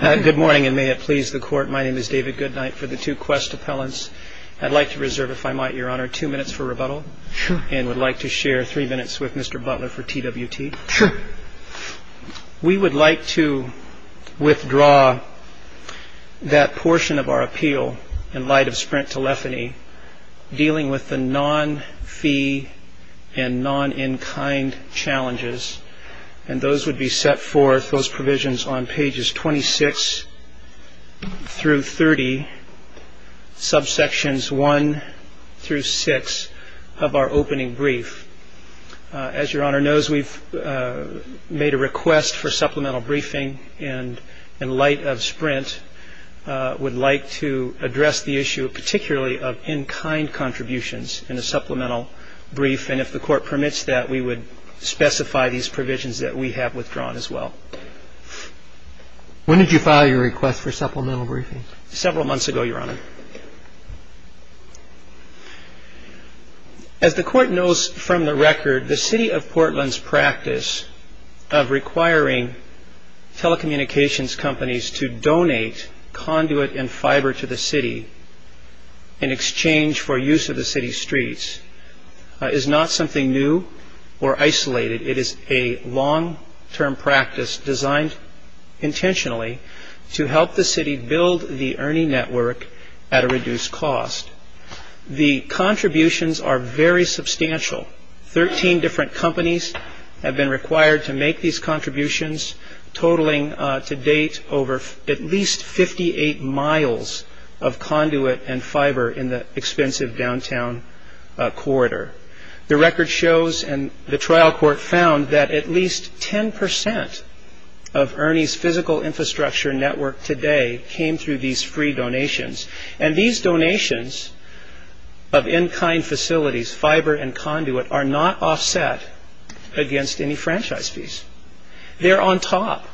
Good morning, and may it please the Court. My name is David Goodknight for the two Qwest appellants. I'd like to reserve, if I might, Your Honor, two minutes for rebuttal and would like to share three minutes with Mr. Butler for TWT. We would like to withdraw that portion of our appeal in light of Sprint Telephony dealing with the non-fee and non-in-kind challenges, and those would be set forth, those provisions on pages 26-30, subsections 1-6 of our opening brief. As Your Honor knows, we've made a request for supplemental briefing, and in light of Sprint, would like to address the issue particularly of in-kind contributions in a supplemental brief, and if the Court permits that, we would like to withdraw that portion of our appeal. When did you file your request for supplemental briefing? Several months ago, Your Honor. As the Court knows from the record, the City of Portland's practice of requiring telecommunications companies to donate conduit and fiber to the city in exchange for use of the city's streets is not something new or isolated. It is a long-term practice designed intentionally to help the city build the Ernie network at a reduced cost. The contributions are very substantial. Thirteen different companies have been required to make these contributions, totaling to date over at least 58 miles of conduit and fiber in the expensive downtown corridor. The record shows, and the trial court found, that at least 10 percent of Ernie's physical infrastructure network today came through these free donations, and these donations of in-kind facilities, fiber and conduit, are not offset against any franchise fees. They're on top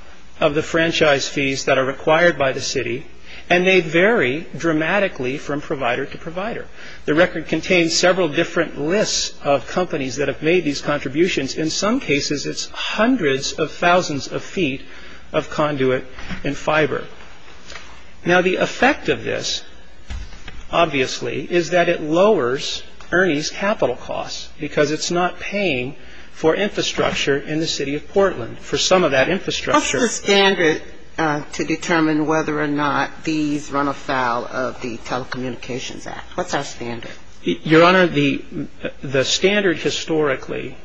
of the franchise fees that are required by the city, and they vary dramatically from provider to provider. The record contains several different lists of companies that have made these contributions. In some cases, it's hundreds of thousands of feet of conduit and fiber. Now the effect of this, obviously, is that it lowers Ernie's capital costs because it's not paying for infrastructure in the City of Portland. For some of that infrastructure What's the standard to determine whether or not these run afoul of the Telecommunications Act? What's our standard? Your Honor, the standard historically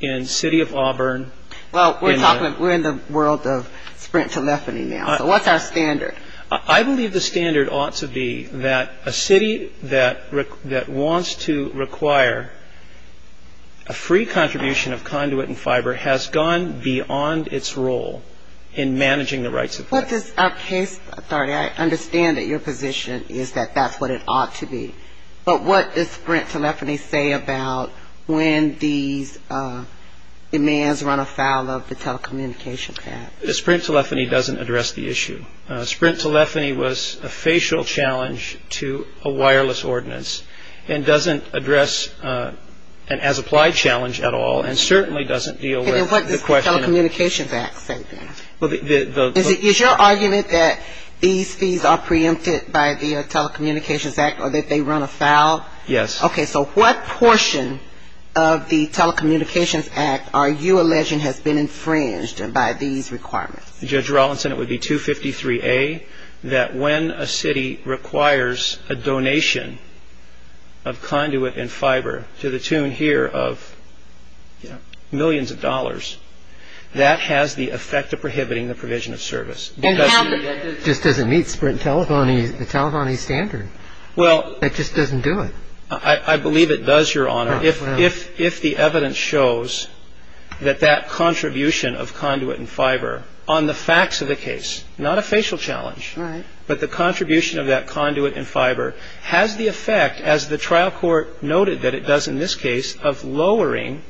in the City of Auburn Well, we're in the world of sprint telephony now, so what's our standard? I believe the standard ought to be that a city that wants to require a free contribution of conduit and fiber has gone beyond its role in managing the rights of this. What does our case authority, I understand that your position is that that's what it ought to be, but what does sprint telephony say about when these demands run afoul of the Telecommunications Act? Sprint telephony doesn't address the issue. Sprint telephony was a facial challenge to the City of Auburn. It certainly doesn't deal with the question of What does the Telecommunications Act say then? Is your argument that these fees are preempted by the Telecommunications Act or that they run afoul? Yes. Okay, so what portion of the Telecommunications Act are you alleging has been infringed by these requirements? Judge Rawlinson, it would be 253A, that when a city requires a donation of conduit and fiber, millions of dollars, that has the effect of prohibiting the provision of service. That just doesn't meet sprint telephony's standard. It just doesn't do it. I believe it does, Your Honor. If the evidence shows that that contribution of conduit and fiber on the facts of the case, not a facial challenge, but the contribution of that conduit and fiber, has the effect, as the trial court noted that it does in this case, of lowering,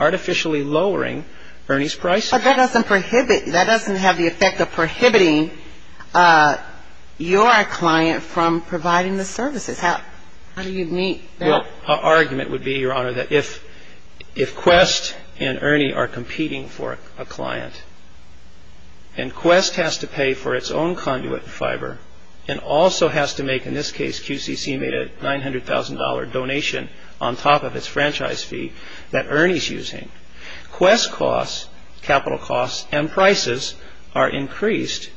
artificially lowering, Ernie's price. But that doesn't prohibit, that doesn't have the effect of prohibiting your client from providing the services. How do you meet that? Well, our argument would be, Your Honor, that if Quest and Ernie are competing for a client, and Quest has to pay for its own conduit and fiber, and also has to make, in this case, QCC made a $900,000 donation on top of its franchise fee that Ernie's using, Quest costs, capital costs, and prices are increased,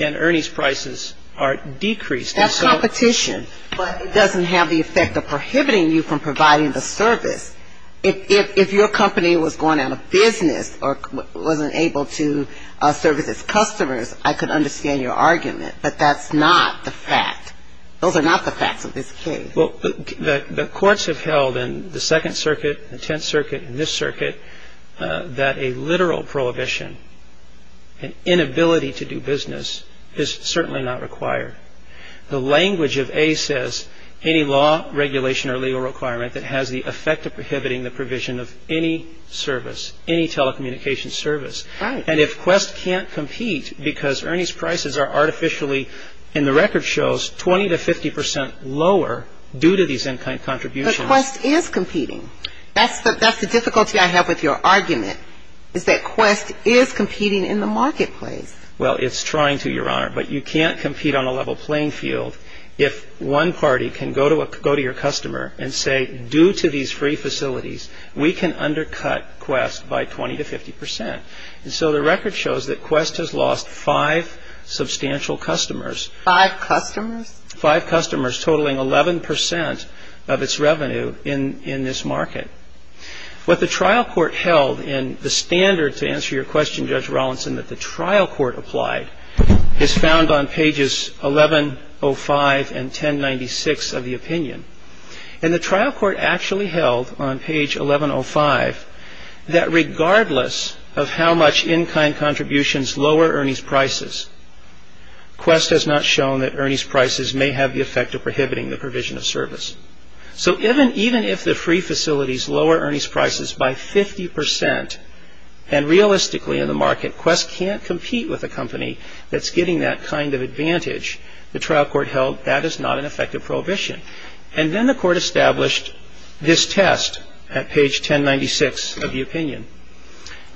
and Ernie's prices are decreased. That's competition, but it doesn't have the effect of prohibiting you from providing the service. If your company was going out of business or wasn't able to service its customers, I could understand your argument, but that's not the fact. Those are not the facts of this case. Well, the courts have held in the Second Circuit, the Tenth Circuit, and this circuit, that a literal prohibition, an inability to do business, is certainly not required. The language of A says any law, regulation, or legal requirement that has the effect of prohibiting the provision of any service, any telecommunications service, and if Quest can't compete because Ernie's prices are artificially, and the record shows, 20 to 50 percent lower due to these contributions. But Quest is competing. That's the difficulty I have with your argument, is that Quest is competing in the marketplace. Well, it's trying to, Your Honor, but you can't compete on a level playing field. If one party can go to your customer and say, due to these free facilities, we can undercut Quest by 20 to 50 percent. And so the record shows that Quest has lost five substantial customers. Five customers? Five customers, totaling 11 percent of its revenue in this market. What the trial court held in the standard, to answer your question, Judge Rawlinson, that the trial court applied, is found on pages 1105 and 1096 of the opinion. And the trial court actually held, on page 1105, that regardless of how much in-kind contributions lower Ernie's prices, Quest has not shown that Ernie's prices may have the effect of prohibiting the provision of service. So even if the free facilities lower Ernie's prices by 50 percent, and realistically in the market, Quest can't be a company that's getting that kind of advantage. The trial court held that is not an effective prohibition. And then the court established this test at page 1096 of the opinion.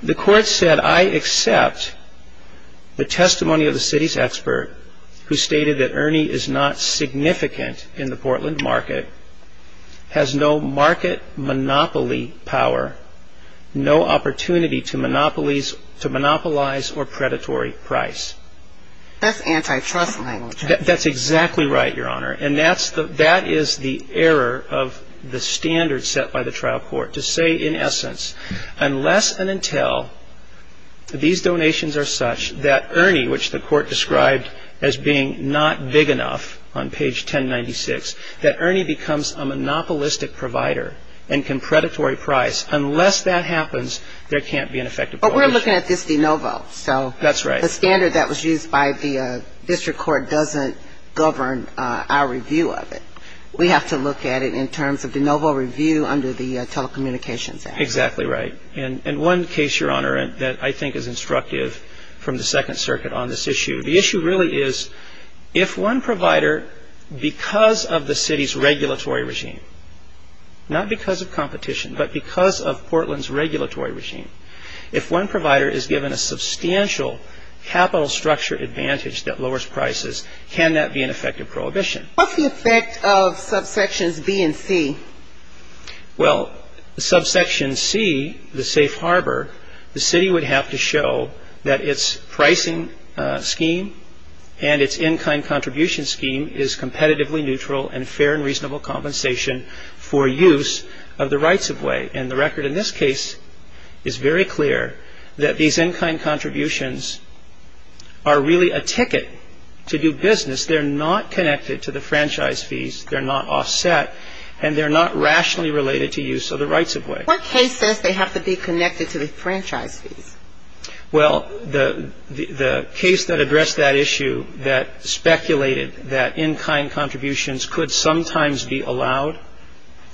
The court said, I accept the testimony of the city's expert who stated that Ernie is not significant in the Portland market, has no market monopoly power, no opportunity to monopolize or predatory price. That's antitrust language, right? That's exactly right, Your Honor. And that is the error of the standard set by the trial court, to say, in essence, unless and until these donations are such that Ernie, which the court described as being not big enough on page 1096, that Ernie becomes a monopolistic provider and can predatory price, unless that happens, there can't be an effective prohibition. But we're looking at this de novo, so. That's right. The standard that was used by the district court doesn't govern our review of it. We have to look at it in terms of de novo review under the Telecommunications Act. Exactly right. And one case, Your Honor, that I think is instructive from the Second Circuit on this issue, the issue really is, if one provider, because of the city's regulatory regime, not because of competition, but because of Portland's capital structure advantage that lowers prices, can that be an effective prohibition? What's the effect of subsections B and C? Well, subsection C, the safe harbor, the city would have to show that its pricing scheme and its in-kind contribution scheme is competitively neutral and fair and reasonable compensation for use of the rights-of-way. And the record in this case is very clear that these in-kind contributions are really a ticket to do business. They're not connected to the franchise fees. They're not offset. And they're not rationally related to use of the rights-of-way. What case says they have to be connected to the franchise fees? Well, the case that addressed that issue that speculated that in-kind contributions could sometimes be allowed,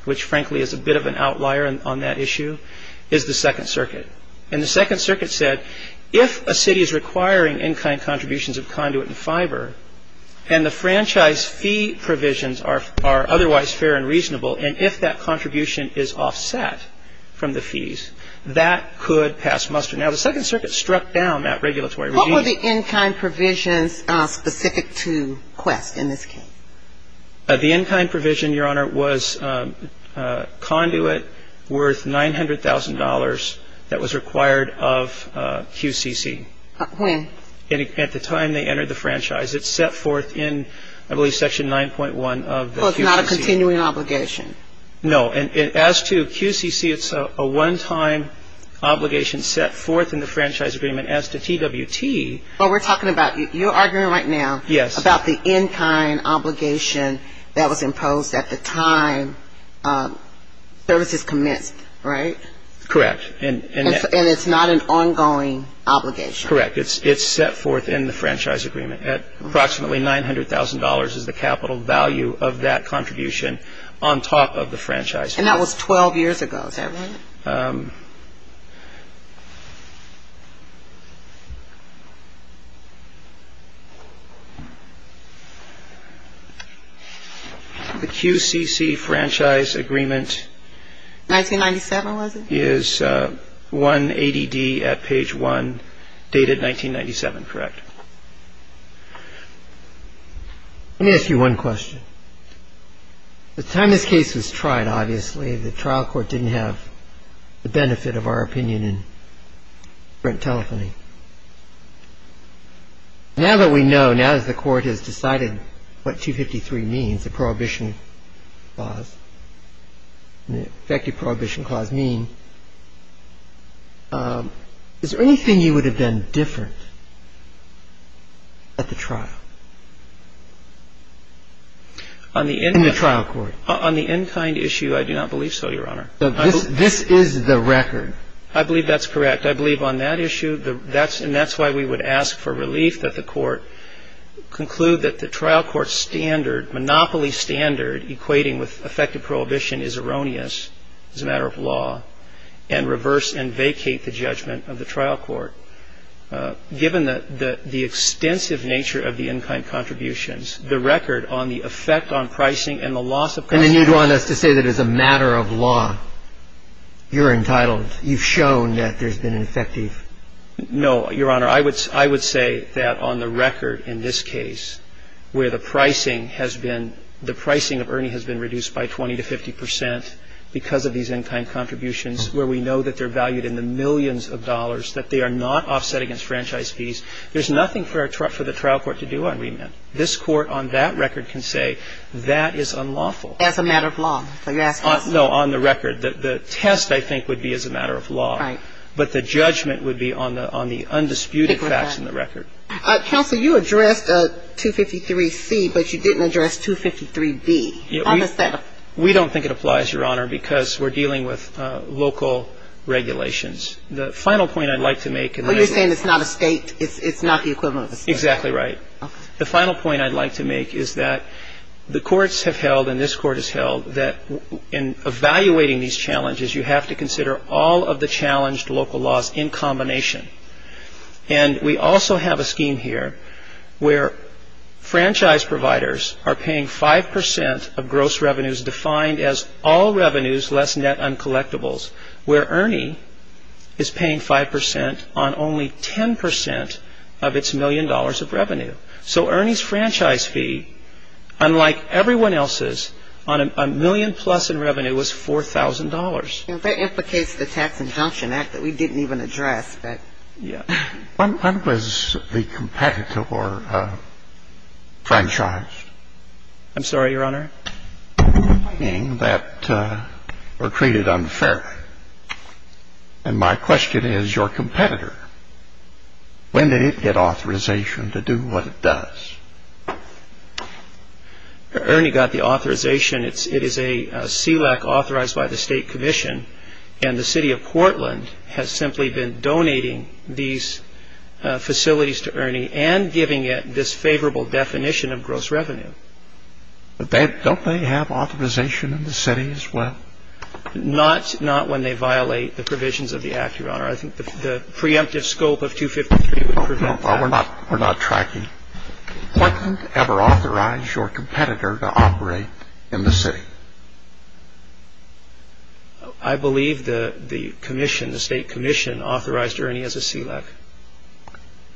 which frankly is a bit of an outlier on that issue, is the Second Circuit. And the Second Circuit said, if a city is requiring in-kind contributions of conduit and fiber and the franchise fee provisions are otherwise fair and reasonable, and if that contribution is offset from the fees, that could pass muster. Now, the Second Circuit struck down that regulatory regime. What were the in-kind provisions specific to Quest in this case? The in-kind provision, Your Honor, was conduit worth $900,000 that was required of QCC. When? At the time they entered the franchise. It's set forth in, I believe, Section 9.1 of the QCC. So it's not a continuing obligation? No. And as to QCC, it's a one-time obligation set forth in the franchise agreement. As to TWT... Oh, we're talking about... You're arguing right now... Yes. ...about the in-kind obligation that was imposed at the time services commenced, right? Correct. And it's not an ongoing obligation? Correct. It's set forth in the franchise agreement. At approximately $900,000 is the capital value of that contribution on top of the franchise fee. And that was 12 years ago, is that right? The QCC franchise agreement is 180D at page 1, dated 1997, correct? Let me ask you one question. At the time this case was tried, obviously, the trial court didn't have the benefit of our opinion in telephony. Now that we know, now that the court has decided what 253 means, the prohibition clause, the effective prohibition clause mean, is there anything you would have done different at the trial? In the trial court? On the in-kind issue, I do not believe so, Your Honor. This is the record. I believe that's correct. I believe on that issue, and that's why we would ask for relief that the court conclude that the trial court's standard, monopoly standard equating with effective prohibition is erroneous as a matter of law and reverse and vacate the judgment of the trial court. So given the extensive nature of the in-kind contributions, the record on the effect on pricing and the loss of costs of the in-kind contributions. And then you'd want us to say that as a matter of law, you're entitled, you've shown that there's been an effective. No, Your Honor. I would say that on the record in this case, where the pricing has been, the pricing of Ernie has been reduced by 20 to 50 percent because of these in-kind contributions, where we know that they're valued in the millions of dollars, that they are not offset against franchise fees. There's nothing for the trial court to do on remand. This court on that record can say, that is unlawful. As a matter of law, so you're asking us. No, on the record. The test, I think, would be as a matter of law. Right. But the judgment would be on the undisputed facts in the record. Counsel, you addressed 253C, but you didn't address 253B. On the setup. We don't think it applies, Your Honor, because we're dealing with local regulations. The final point I'd like to make. Well, you're saying it's not a state, it's not the equivalent of a state. Exactly right. The final point I'd like to make is that the courts have held, and this court has held, that in evaluating these challenges, you have to consider all of the challenged local laws in combination. And we also have a scheme here where franchise providers are paying 5% of gross revenues defined as all revenues less net uncollectibles, where Ernie is paying 5% on only 10% of its million dollars of revenue. So Ernie's franchise fee, unlike everyone else's, on a million plus in revenue, was $4,000. That implicates the Tax Injunction Act that we didn't even address. When was the competitor franchised? I'm sorry, Your Honor? That were treated unfairly. And my question is, your competitor, when did it get authorization to do what it does? Ernie got the authorization. It is a SELAC authorized by the state commission, and the city of Portland has simply been donating these facilities to Ernie and giving it this favorable definition of gross revenue. But don't they have authorization in the city as well? Not when they violate the provisions of the Act, Your Honor. I think the preemptive scope of 253 would prevent that. Well, we're not tracking. Did Portland ever authorize your competitor to operate in the city? I believe the commission, the state commission, authorized Ernie as a SELAC.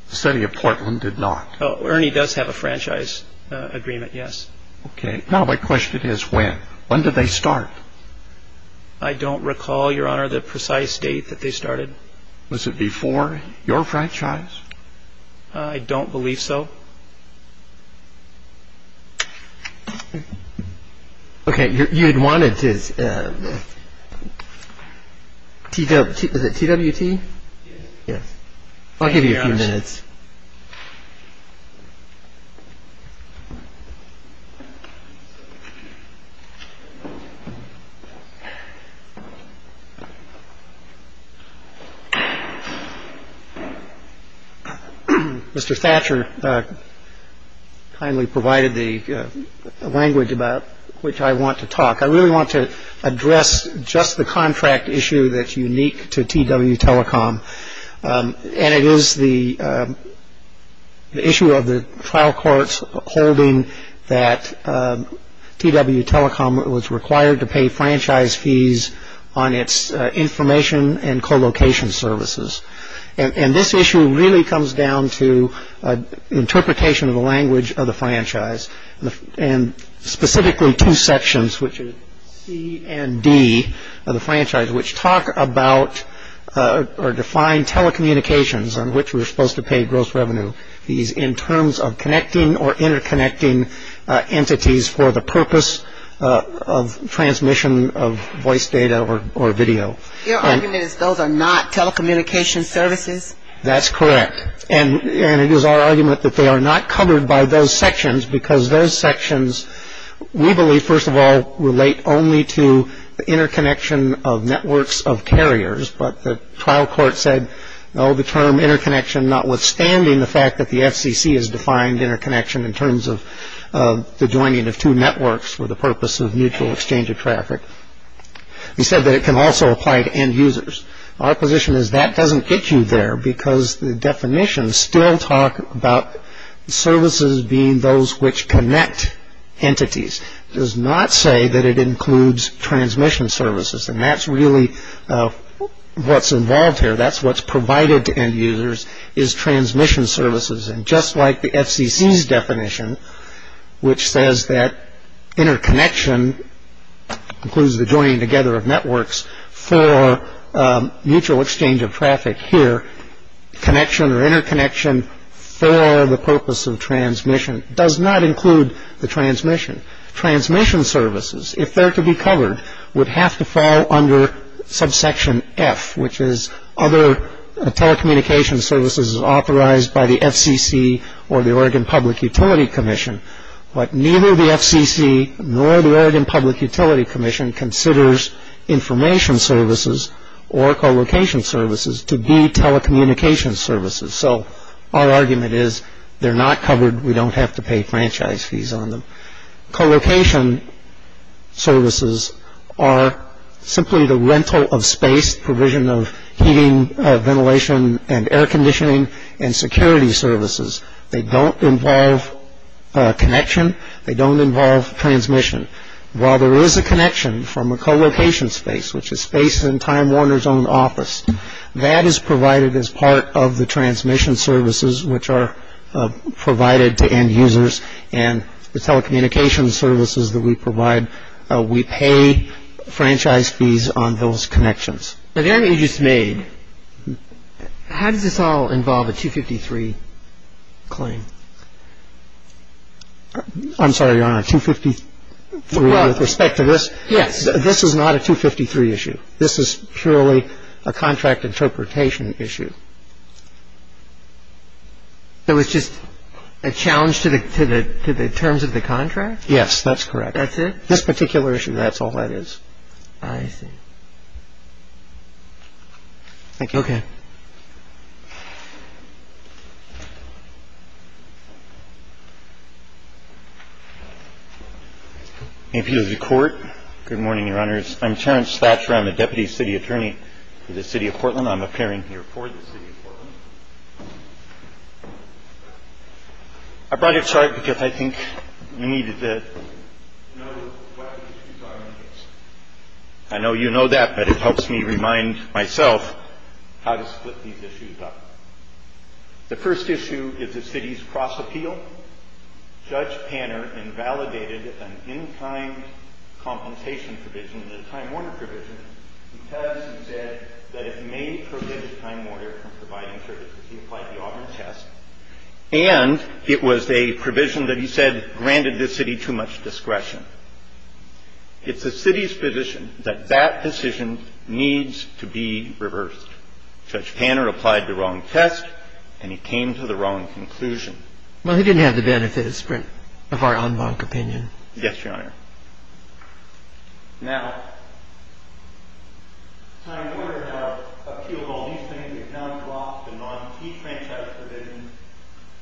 The city of Portland did not. Ernie does have a franchise agreement, yes. Okay. Now my question is, when? When did they start? I don't recall, Your Honor, the precise date that they started. Was it before your franchise? I don't believe so. Okay. You had wanted to, was it TWT? I'll give you a few minutes. Mr. Thatcher kindly provided the language about which I want to talk. I really want to address just the contract issue that's unique to TW Telecom. The issue of the trial courts holding that TW Telecom was required to pay franchise fees on its information and co-location services. And this issue really comes down to interpretation of the language of the franchise, and specifically two sections, which is C and D of the franchise, which talk about or define telecommunications on which we're supposed to pay gross revenue. These in terms of connecting or interconnecting entities for the purpose of transmission of voice data or video. Your argument is those are not telecommunication services? That's correct. And it is our argument that they are not covered by those sections, because those sections we believe, first of all, relate only to the interconnection of networks of carriers. But the trial court said, no, the term interconnection, notwithstanding the fact that the FCC has defined interconnection in terms of the joining of two networks for the purpose of mutual exchange of traffic. We said that it can also apply to end users. Our position is that doesn't get you there, because the definition still talk about services being those which connect entities. It does not say that it includes transmission services. And that's really what's involved here. That's what's provided to end users is transmission services. And just like the FCC's definition, which says that interconnection includes the joining together of networks for mutual exchange of traffic here, connection or interconnection for the purpose of transmission, does not include the transmission. Transmission services, if they're to be covered, would have to fall under subsection F, which is other telecommunication services authorized by the FCC or the Oregon Public Utility Commission. But neither the FCC nor the Oregon Public Utility Commission considers information services or co-location services to be telecommunication services. So our argument is they're not covered. We don't have to pay franchise fees on them. Co-location services are simply the rental of space, provision of heating, ventilation and air conditioning and security services. They don't involve connection. They don't involve transmission. While there is a connection from a co-location space, which is space in Time Warner's own office, that is provided as part of the transmission services which are provided to end users and the telecommunication services that we provide, we pay franchise fees on those connections. So the argument you just made, how does this all involve a 253 claim? I'm sorry, Your Honor, 253 with respect to this? Yes. This is not a 253 issue. This is purely a contract interpretation issue. So it's just a challenge to the terms of the contract? Yes, that's correct. That's it? This particular issue, that's all that is. I see. Thank you. Okay. Appeal to the Court. Good morning, Your Honors. I'm Terrence Thatcher. I'm the Deputy City Attorney for the City of Portland. I'm appearing here for the City of Portland. I brought your chart because I think you needed it. I know you know that, but it helps me remind myself how to split these issues up. The first issue is the city's cross-appeal. Judge Panner invalidated an in-kind compensation provision, the Time Warner provision, because he said that it may prohibit Time Warner from providing services. He applied the Auburn test. And it was a provision that he said granted the city too much discretion. It's the city's position that that decision needs to be reversed. Judge Panner applied the wrong test, and he came to the wrong conclusion. Well, he didn't have the benefits of our en banc opinion. Yes, Your Honor. Now, Time Warner has appealed all these things. He has now dropped the non-key franchise provisions.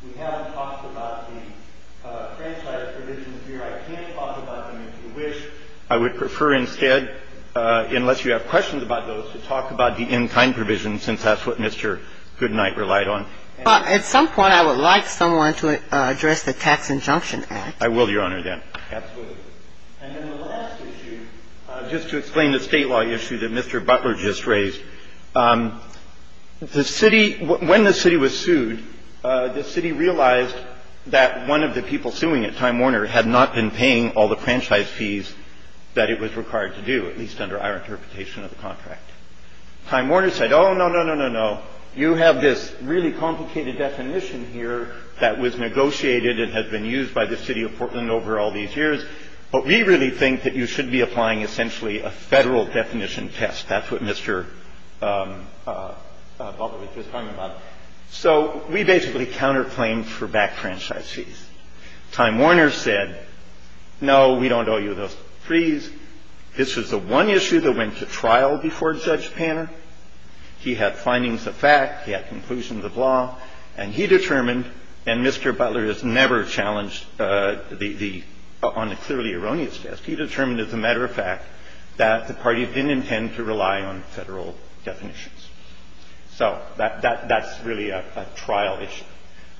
We haven't talked about the franchise provisions here. I can't talk about them, if you wish. I would prefer instead, unless you have questions about those, to talk about the in-kind provision, since that's what Mr. Goodnight relied on. At some point, I would like someone to address the Tax Injunction Act. I will, Your Honor, then. Absolutely. And then the last issue, just to explain the state law issue that Mr. Butler just raised, the city – when the city was sued, the city realized that one of the people suing it, Time Warner, had not been paying all the franchise fees that it was required to do, at least under our interpretation of the contract. Time Warner said, oh, no, no, no, no, no. You have this really complicated definition here that was negotiated and has been used by the City of Portland over all these years, but we really think that you should be applying essentially a Federal definition test. That's what Mr. Butler was just talking about. So we basically counterclaimed for back franchise fees. Time Warner said, no, we don't owe you those fees. This was the one issue that went to trial before Judge Panner. He had findings of fact. He had conclusions of law. And he determined – and Mr. Butler has never challenged the – on a clearly erroneous test. He determined, as a matter of fact, that the parties didn't intend to rely on Federal definitions. So that's really a trial issue.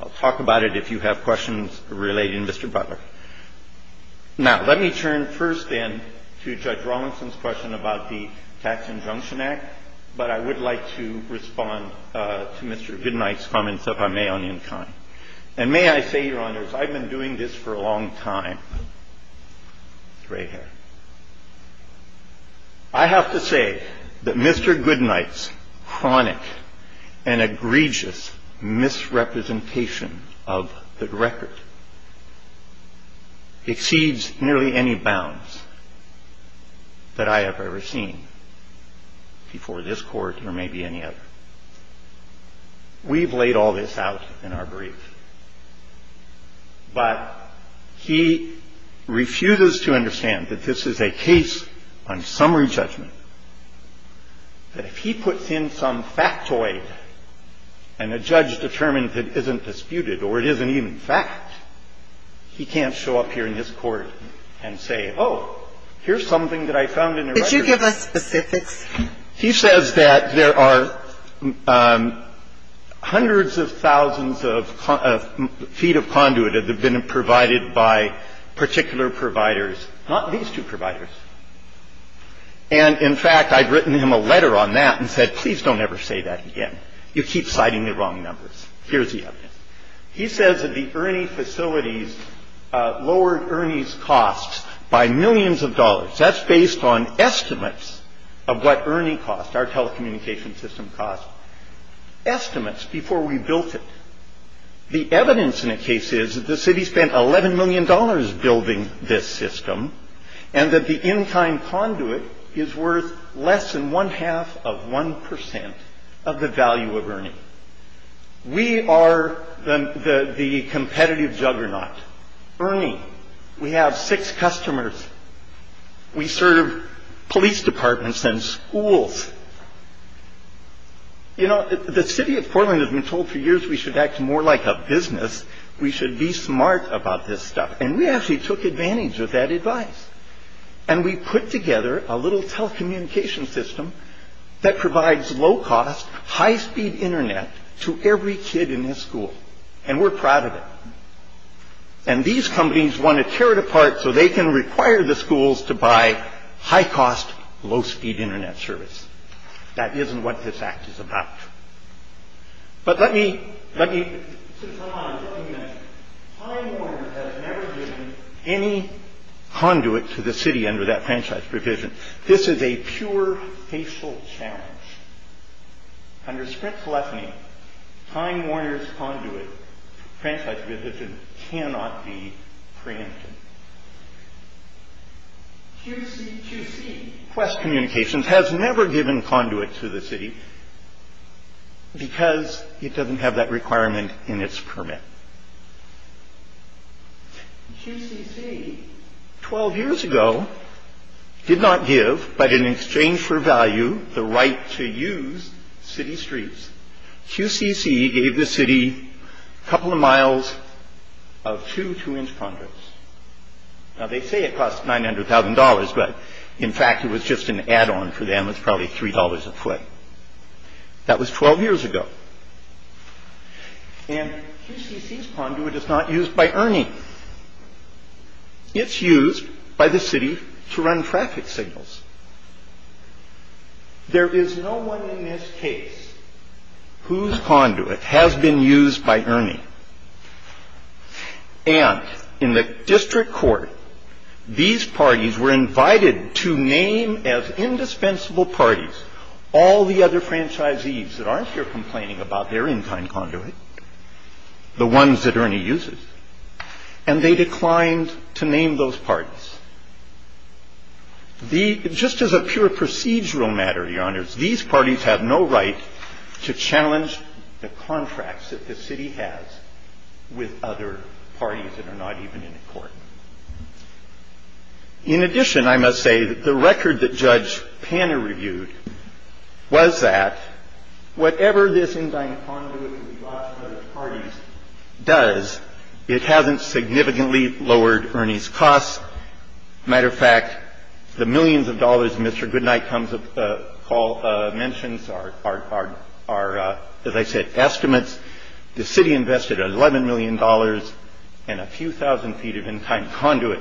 I'll talk about it if you have questions relating to Mr. Butler. Now, let me turn first, then, to Judge Rawlinson's question about the Tax Injunction Act. I'm not going to go into detail on that, but I would like to respond to Mr. Goodnight's comments, if I may, on the in kind. And may I say, Your Honors, I've been doing this for a long time. It's right here. I have to say that Mr. Goodnight's chronic and egregious misrepresentation of the record exceeds nearly any bounds that I have ever seen before this Court or maybe any other. We've laid all this out in our brief. But he refuses to understand that this is a case on summary judgment, that if he puts in some factoid and a judge determines it isn't disputed or it isn't even fact, he can't show up here in this Court and say, oh, here's something that I found in the record. Could you give us specifics? He says that there are hundreds of thousands of feet of conduit that have been provided by particular providers, not these two providers. And, in fact, I'd written him a letter on that and said, please don't ever say that again. You keep citing the wrong numbers. Here's the evidence. He says that the Ernie facilities lowered Ernie's costs by millions of dollars. That's based on estimates of what Ernie cost, our telecommunications system cost. Estimates before we built it. The evidence in the case is that the city spent $11 million building this system and that the in-kind conduit is worth less than one-half of 1% of the value of Ernie. We are the competitive juggernaut. Ernie, we have six customers. We serve police departments and schools. You know, the city of Portland has been told for years we should act more like a business. We should be smart about this stuff. And we actually took advantage of that advice. And we put together a little telecommunications system that provides low-cost, high-speed Internet to every kid in this school. And we're proud of it. And these companies want to tear it apart so they can require the schools to buy high-cost, low-speed Internet service. That isn't what this act is about. But let me, let me, let me mention, Time Warner has never given any conduit to the city under that franchise provision. This is a pure facial challenge. Under sprint telephony, Time Warner's conduit franchise provision cannot be preempted. QCC, Quest Communications, has never given conduit to the city because it doesn't have that requirement in its permit. QCC, 12 years ago, did not give, but in exchange for value, the right to use city streets. QCC gave the city a couple of miles of two two-inch conduits. Now, they say it costs $900,000, but in fact, it was just an add-on for them. It's probably $3 a foot. That was 12 years ago. And QCC's conduit is not used by Ernie. It's used by the city to run traffic signals. There is no one in this case whose conduit has been used by Ernie. And in the district court, these parties were invited to name as indispensable parties all the other franchisees that aren't here complaining about their in-kind conduit, the ones that Ernie uses, and they declined to name those parties. The other parties that are not here complain about their in-kind conduit, the ones that Ernie uses, and they declined to name those parties. The other parties that are not here complain about their in-kind conduit, the ones that Ernie uses, and they declined to name those parties. Just as a pure procedural matter, Your Honors, these parties have no right to challenge the contracts that the city has with other parties that are not even in court. In addition, I must say that the record that Judge Panner reviewed was that whatever this in-kind conduit with regard to other parties does, it hasn't significantly lowered Ernie's costs. As a matter of fact, the millions of dollars Mr. Goodnight mentions are, as I said, estimates. The city invested $11 million and a few thousand feet of in-kind conduit.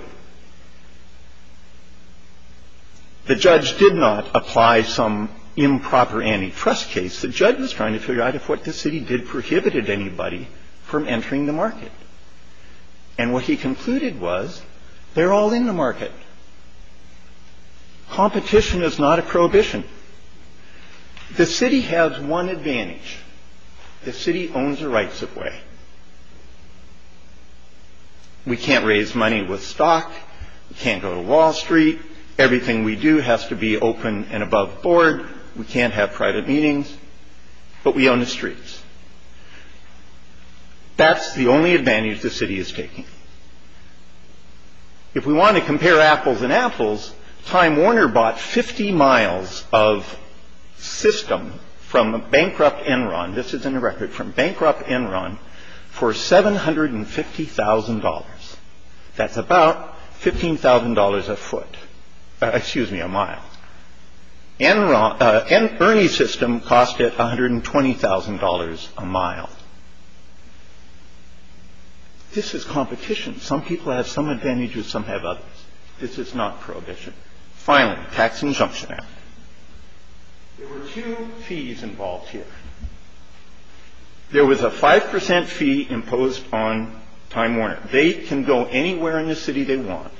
The judge did not apply some improper antitrust case. The judge was trying to figure out if what the city did prohibited anybody from entering the market. And what he concluded was they're all in the market. Competition is not a prohibition. The city has one advantage. The city owns the rights of way. We can't raise money with stock. We can't go to Wall Street. Everything we do has to be open and above board. We can't have private meetings. But we own the streets. That's the only advantage the city is taking. If we want to compare apples and apples, Time Warner bought 50 miles of system from bankrupt Enron. This is in the record from bankrupt Enron for $750,000. That's about $15,000 a foot. Excuse me, a mile. Enron and Ernie system cost it $120,000 a mile. This is competition. Some people have some advantages, some have others. This is not prohibition. Finally, tax injunction. There were two fees involved here. There was a 5% fee imposed on Time Warner. They can go anywhere in the city they want.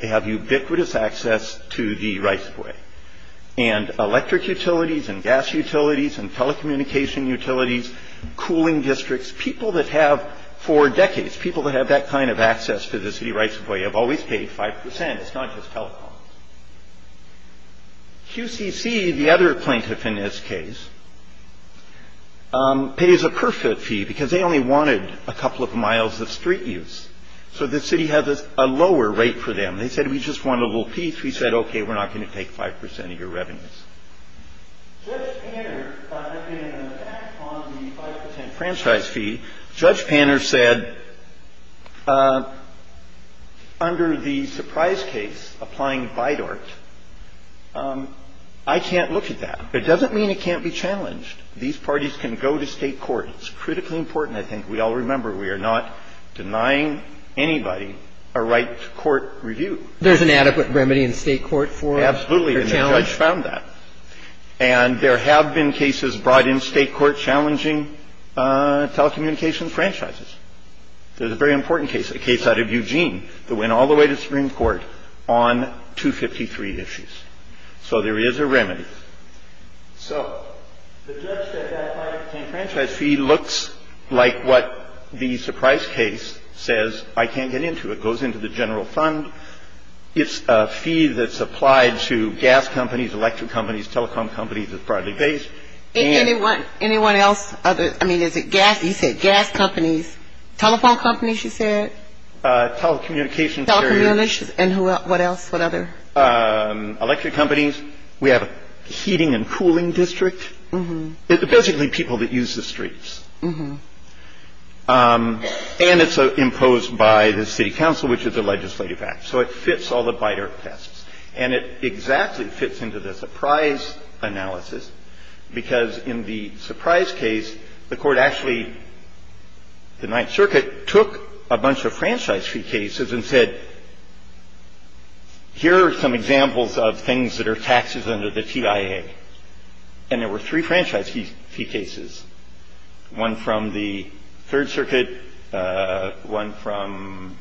They have ubiquitous access to the rights of way. And electric utilities and gas utilities and telecommunication utilities, cooling districts, people that have for decades, people that have that kind of access to the city rights of way have always paid 5%. It's not just telecoms. QCC, the other plaintiff in this case, pays a perfect fee because they only wanted a couple of miles of street use. So the city has a lower rate for them. They said, we just want a little piece. We said, okay, we're not going to take 5% of your revenues. Judge Panner, in an attack on the 5% franchise fee, Judge Panner said, under the surprise case applying BIDORT, I can't look at that. It doesn't mean it can't be challenged. These parties can go to state court. It's critically important. And I think we all remember we are not denying anybody a right to court review. There's an adequate remedy in state court for a challenge. Absolutely. And the judge found that. And there have been cases brought in state court challenging telecommunications franchises. There's a very important case, a case out of Eugene that went all the way to Supreme Court on 253 issues. So there is a remedy. So the judge said that 5% franchise fee looks like what the surprise case says I can't get into. It goes into the general fund. It's a fee that's applied to gas companies, electric companies, telecom companies. It's broadly based. Anyone else? I mean, is it gas? You said gas companies. Telephone companies, you said? Telecommunications. Telecommunications. And what else? What other? Electric companies. We have a heating and cooling district. Basically people that use the streets. And it's imposed by the city council, which is a legislative act. So it fits all the BIDER tests. And it exactly fits into the surprise analysis because in the surprise case, the court actually, the Ninth Circuit, took a bunch of franchise fee cases and said, here are some examples of things that are taxes under the TIA. And there were three franchise fee cases, one from the Third Circuit, one from,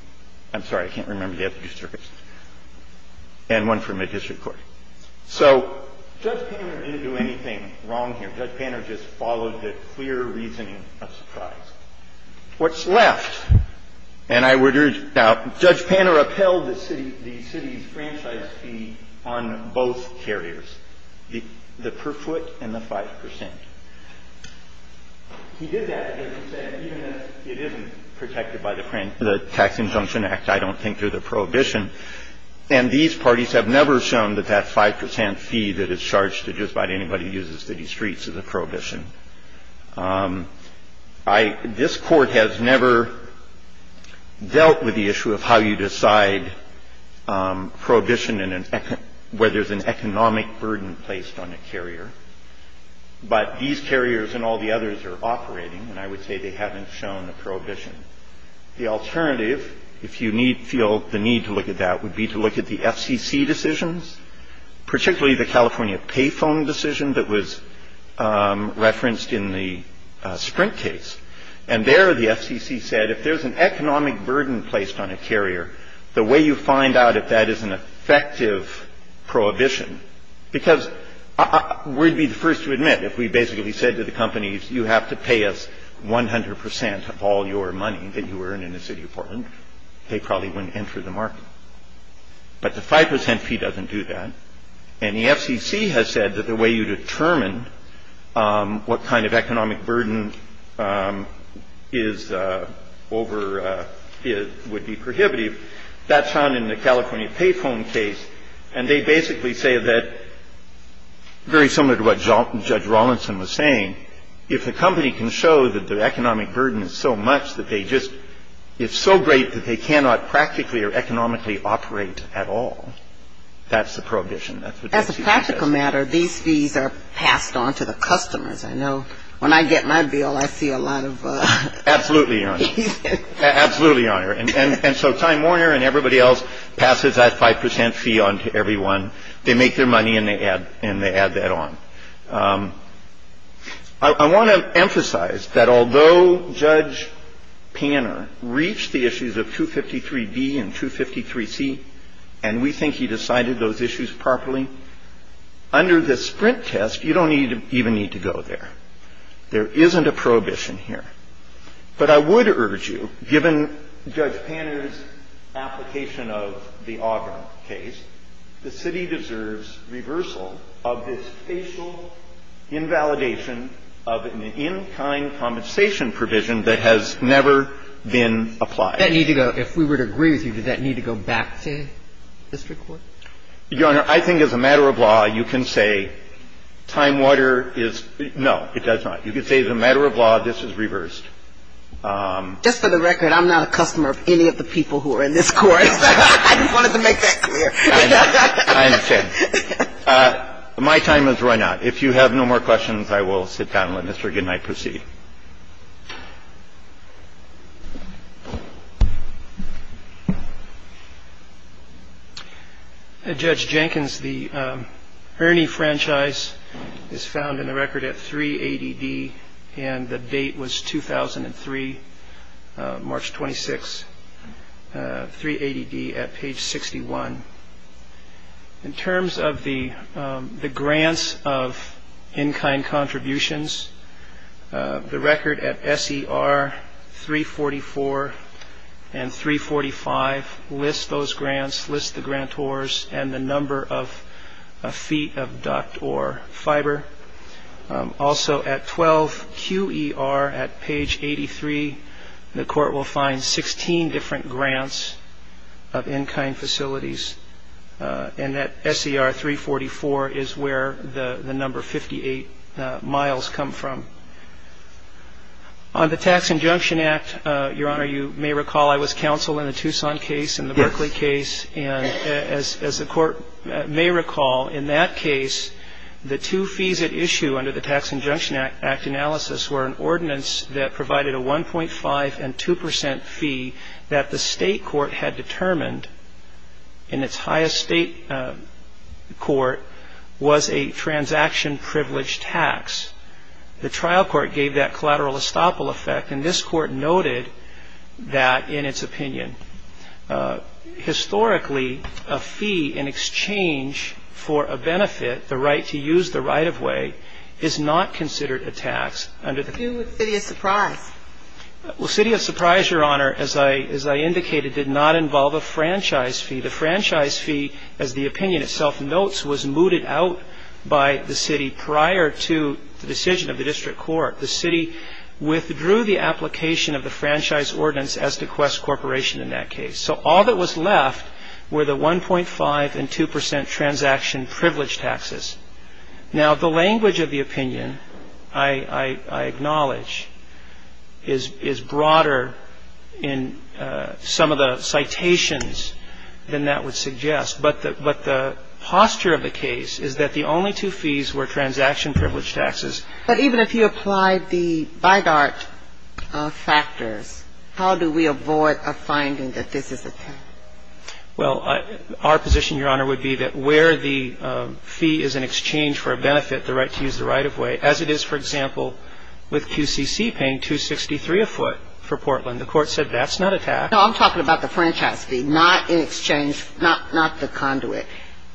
I'm sorry, I can't remember the other two circuits, and one from a district court. So Judge Panner didn't do anything wrong here. Judge Panner just followed the clear reasoning of surprise. What's left? And I would urge, now, Judge Panner upheld the city's franchise fee on both carriers, the per foot and the 5%. He did that, as you said, even if it isn't protected by the Tax Injunction Act, I don't think, through the prohibition. And these parties have never shown that that 5% fee that is charged to just about anybody who uses the city streets is a prohibition. This Court has never dealt with the issue of how you decide prohibition where there's an economic burden placed on a carrier. But these carriers and all the others are operating, and I would say they haven't shown a prohibition. The alternative, if you feel the need to look at that, would be to look at the FCC decisions, particularly the California payphone decision that was referenced in the Sprint case. And there the FCC said if there's an economic burden placed on a carrier, the way you find out if that is an effective prohibition, because we'd be the first to admit if we basically said to the companies, you have to pay us 100% of all your money that you earn in the city of Portland, they probably wouldn't enter the market. But the 5% fee doesn't do that. And the FCC has said that the way you determine what kind of economic burden is over would be prohibitive. That's found in the California payphone case. And they basically say that, very similar to what Judge Rawlinson was saying, if the company can show that the economic burden is so much that they just – if the company can show that the economic burden is so much that they just can't simply operate at all, that's a prohibition. That's what the FCC says. As a practical matter, these fees are passed on to the customers. I know when I get my bill, I see a lot of fees. Absolutely, Your Honor. Absolutely, Your Honor. And so Time Warner and everybody else passes that 5% fee on to everyone. They make their money and they add that on. I want to emphasize that although Judge Panner reached the issues of 253B and 253C and we think he decided those issues properly, under this Sprint test, you don't even need to go there. There isn't a prohibition here. But I would urge you, given Judge Panner's application of the Auburn case, the city deserves reversal of this facial invalidation of an in-kind compensation provision that has never been applied. If we were to agree with you, does that need to go back to district court? Your Honor, I think as a matter of law, you can say Time Warner is – no, it does not. You can say as a matter of law, this is reversed. Just for the record, I'm not a customer of any of the people who are in this court. I just wanted to make that clear. I understand. My time has run out. If you have no more questions, I will sit down and let Mr. Goodenight proceed. Judge Jenkins, the Ernie franchise is found in the record at 380D and the date was 2003, March 26th. The Ernie franchise is found in the record at 380D at page 61. In terms of the grants of in-kind contributions, the record at SER 344 and 345 list those grants, list the grantors and the number of feet of duct or fiber. Also at 12QER at page 83, the court will find 16 different grants of in-kind facilities. And at SER 344 is where the number 58 miles come from. On the Tax Injunction Act, Your Honor, you may recall I was counsel in the Tucson case and the Berkeley case. And as the court may recall, in that case, the two fees at issue under the Tax Injunction Act analysis were an ordinance that provided a 1.5 and 2 percent fee that the state court had determined in its highest state court was a transaction-privileged tax. The trial court gave that collateral estoppel effect, and this court noted that in its opinion. Historically, a fee in exchange for a benefit, the right to use the right-of-way, is not considered a tax under the. Do with City of Surprise. Well, City of Surprise, Your Honor, as I indicated, did not involve a franchise fee. The franchise fee, as the opinion itself notes, was mooted out by the city prior to the decision of the district court. The city withdrew the application of the franchise ordinance as to Quest Corporation in that case. So all that was left were the 1.5 and 2 percent transaction-privileged taxes. Now, the language of the opinion, I acknowledge, is broader in some of the citations than that would suggest. But the posture of the case is that the only two fees were transaction-privileged taxes. But even if you applied the BIDART factors, how do we avoid a finding that this is a tax? Well, our position, Your Honor, would be that where the fee is in exchange for a benefit, the right to use the right-of-way, as it is, for example, with QCC paying 263 a foot for Portland, the court said that's not a tax. No, I'm talking about the franchise fee, not in exchange, not the conduit,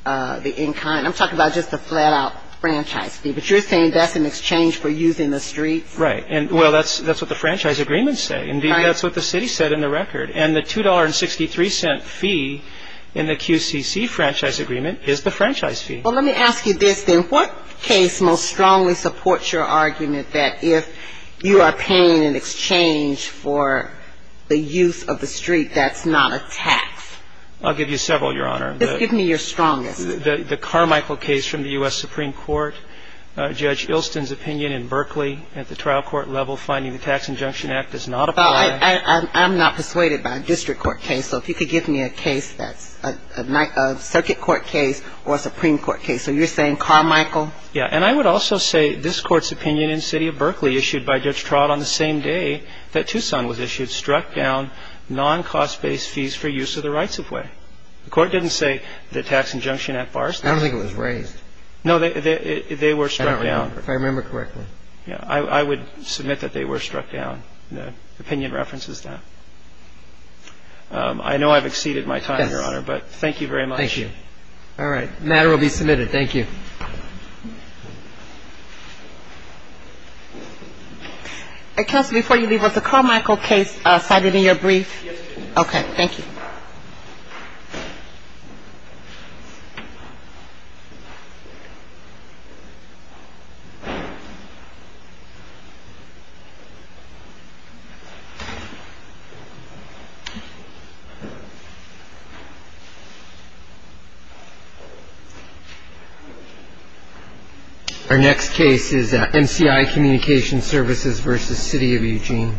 the in-kind. I'm talking about just the flat-out franchise fee. But you're saying that's in exchange for using the streets? Right. And, well, that's what the franchise agreements say. Indeed, that's what the city said in the record. And the $2.63 fee in the QCC franchise agreement is the franchise fee. Well, let me ask you this, then. What case most strongly supports your argument that if you are paying in exchange for the use of the street, that's not a tax? I'll give you several, Your Honor. Just give me your strongest. The Carmichael case from the U.S. Supreme Court, Judge Ilston's opinion in Berkeley at the trial court level, finding the Tax Injunction Act does not apply. Well, I'm not persuaded by a district court case. So if you could give me a case that's a circuit court case or a Supreme Court case. So you're saying Carmichael? Yeah. And I would also say this Court's opinion in the city of Berkeley issued by Judge Trott on the same day that Tucson was issued struck down non-cost-based fees for use of the right-of-way. The Court didn't say the Tax Injunction Act bars this. I don't think it was raised. No, they were struck down. If I remember correctly. Yeah. I would submit that they were struck down. The opinion references that. I know I've exceeded my time, Your Honor. Yes. But thank you very much. Thank you. All right. The matter will be submitted. Thank you. Counsel, before you leave, was the Carmichael case cited in your brief? Yes, it was. Okay. Thank you. Our next case is at MCI Communications Services v. City of Eugene. Thank you.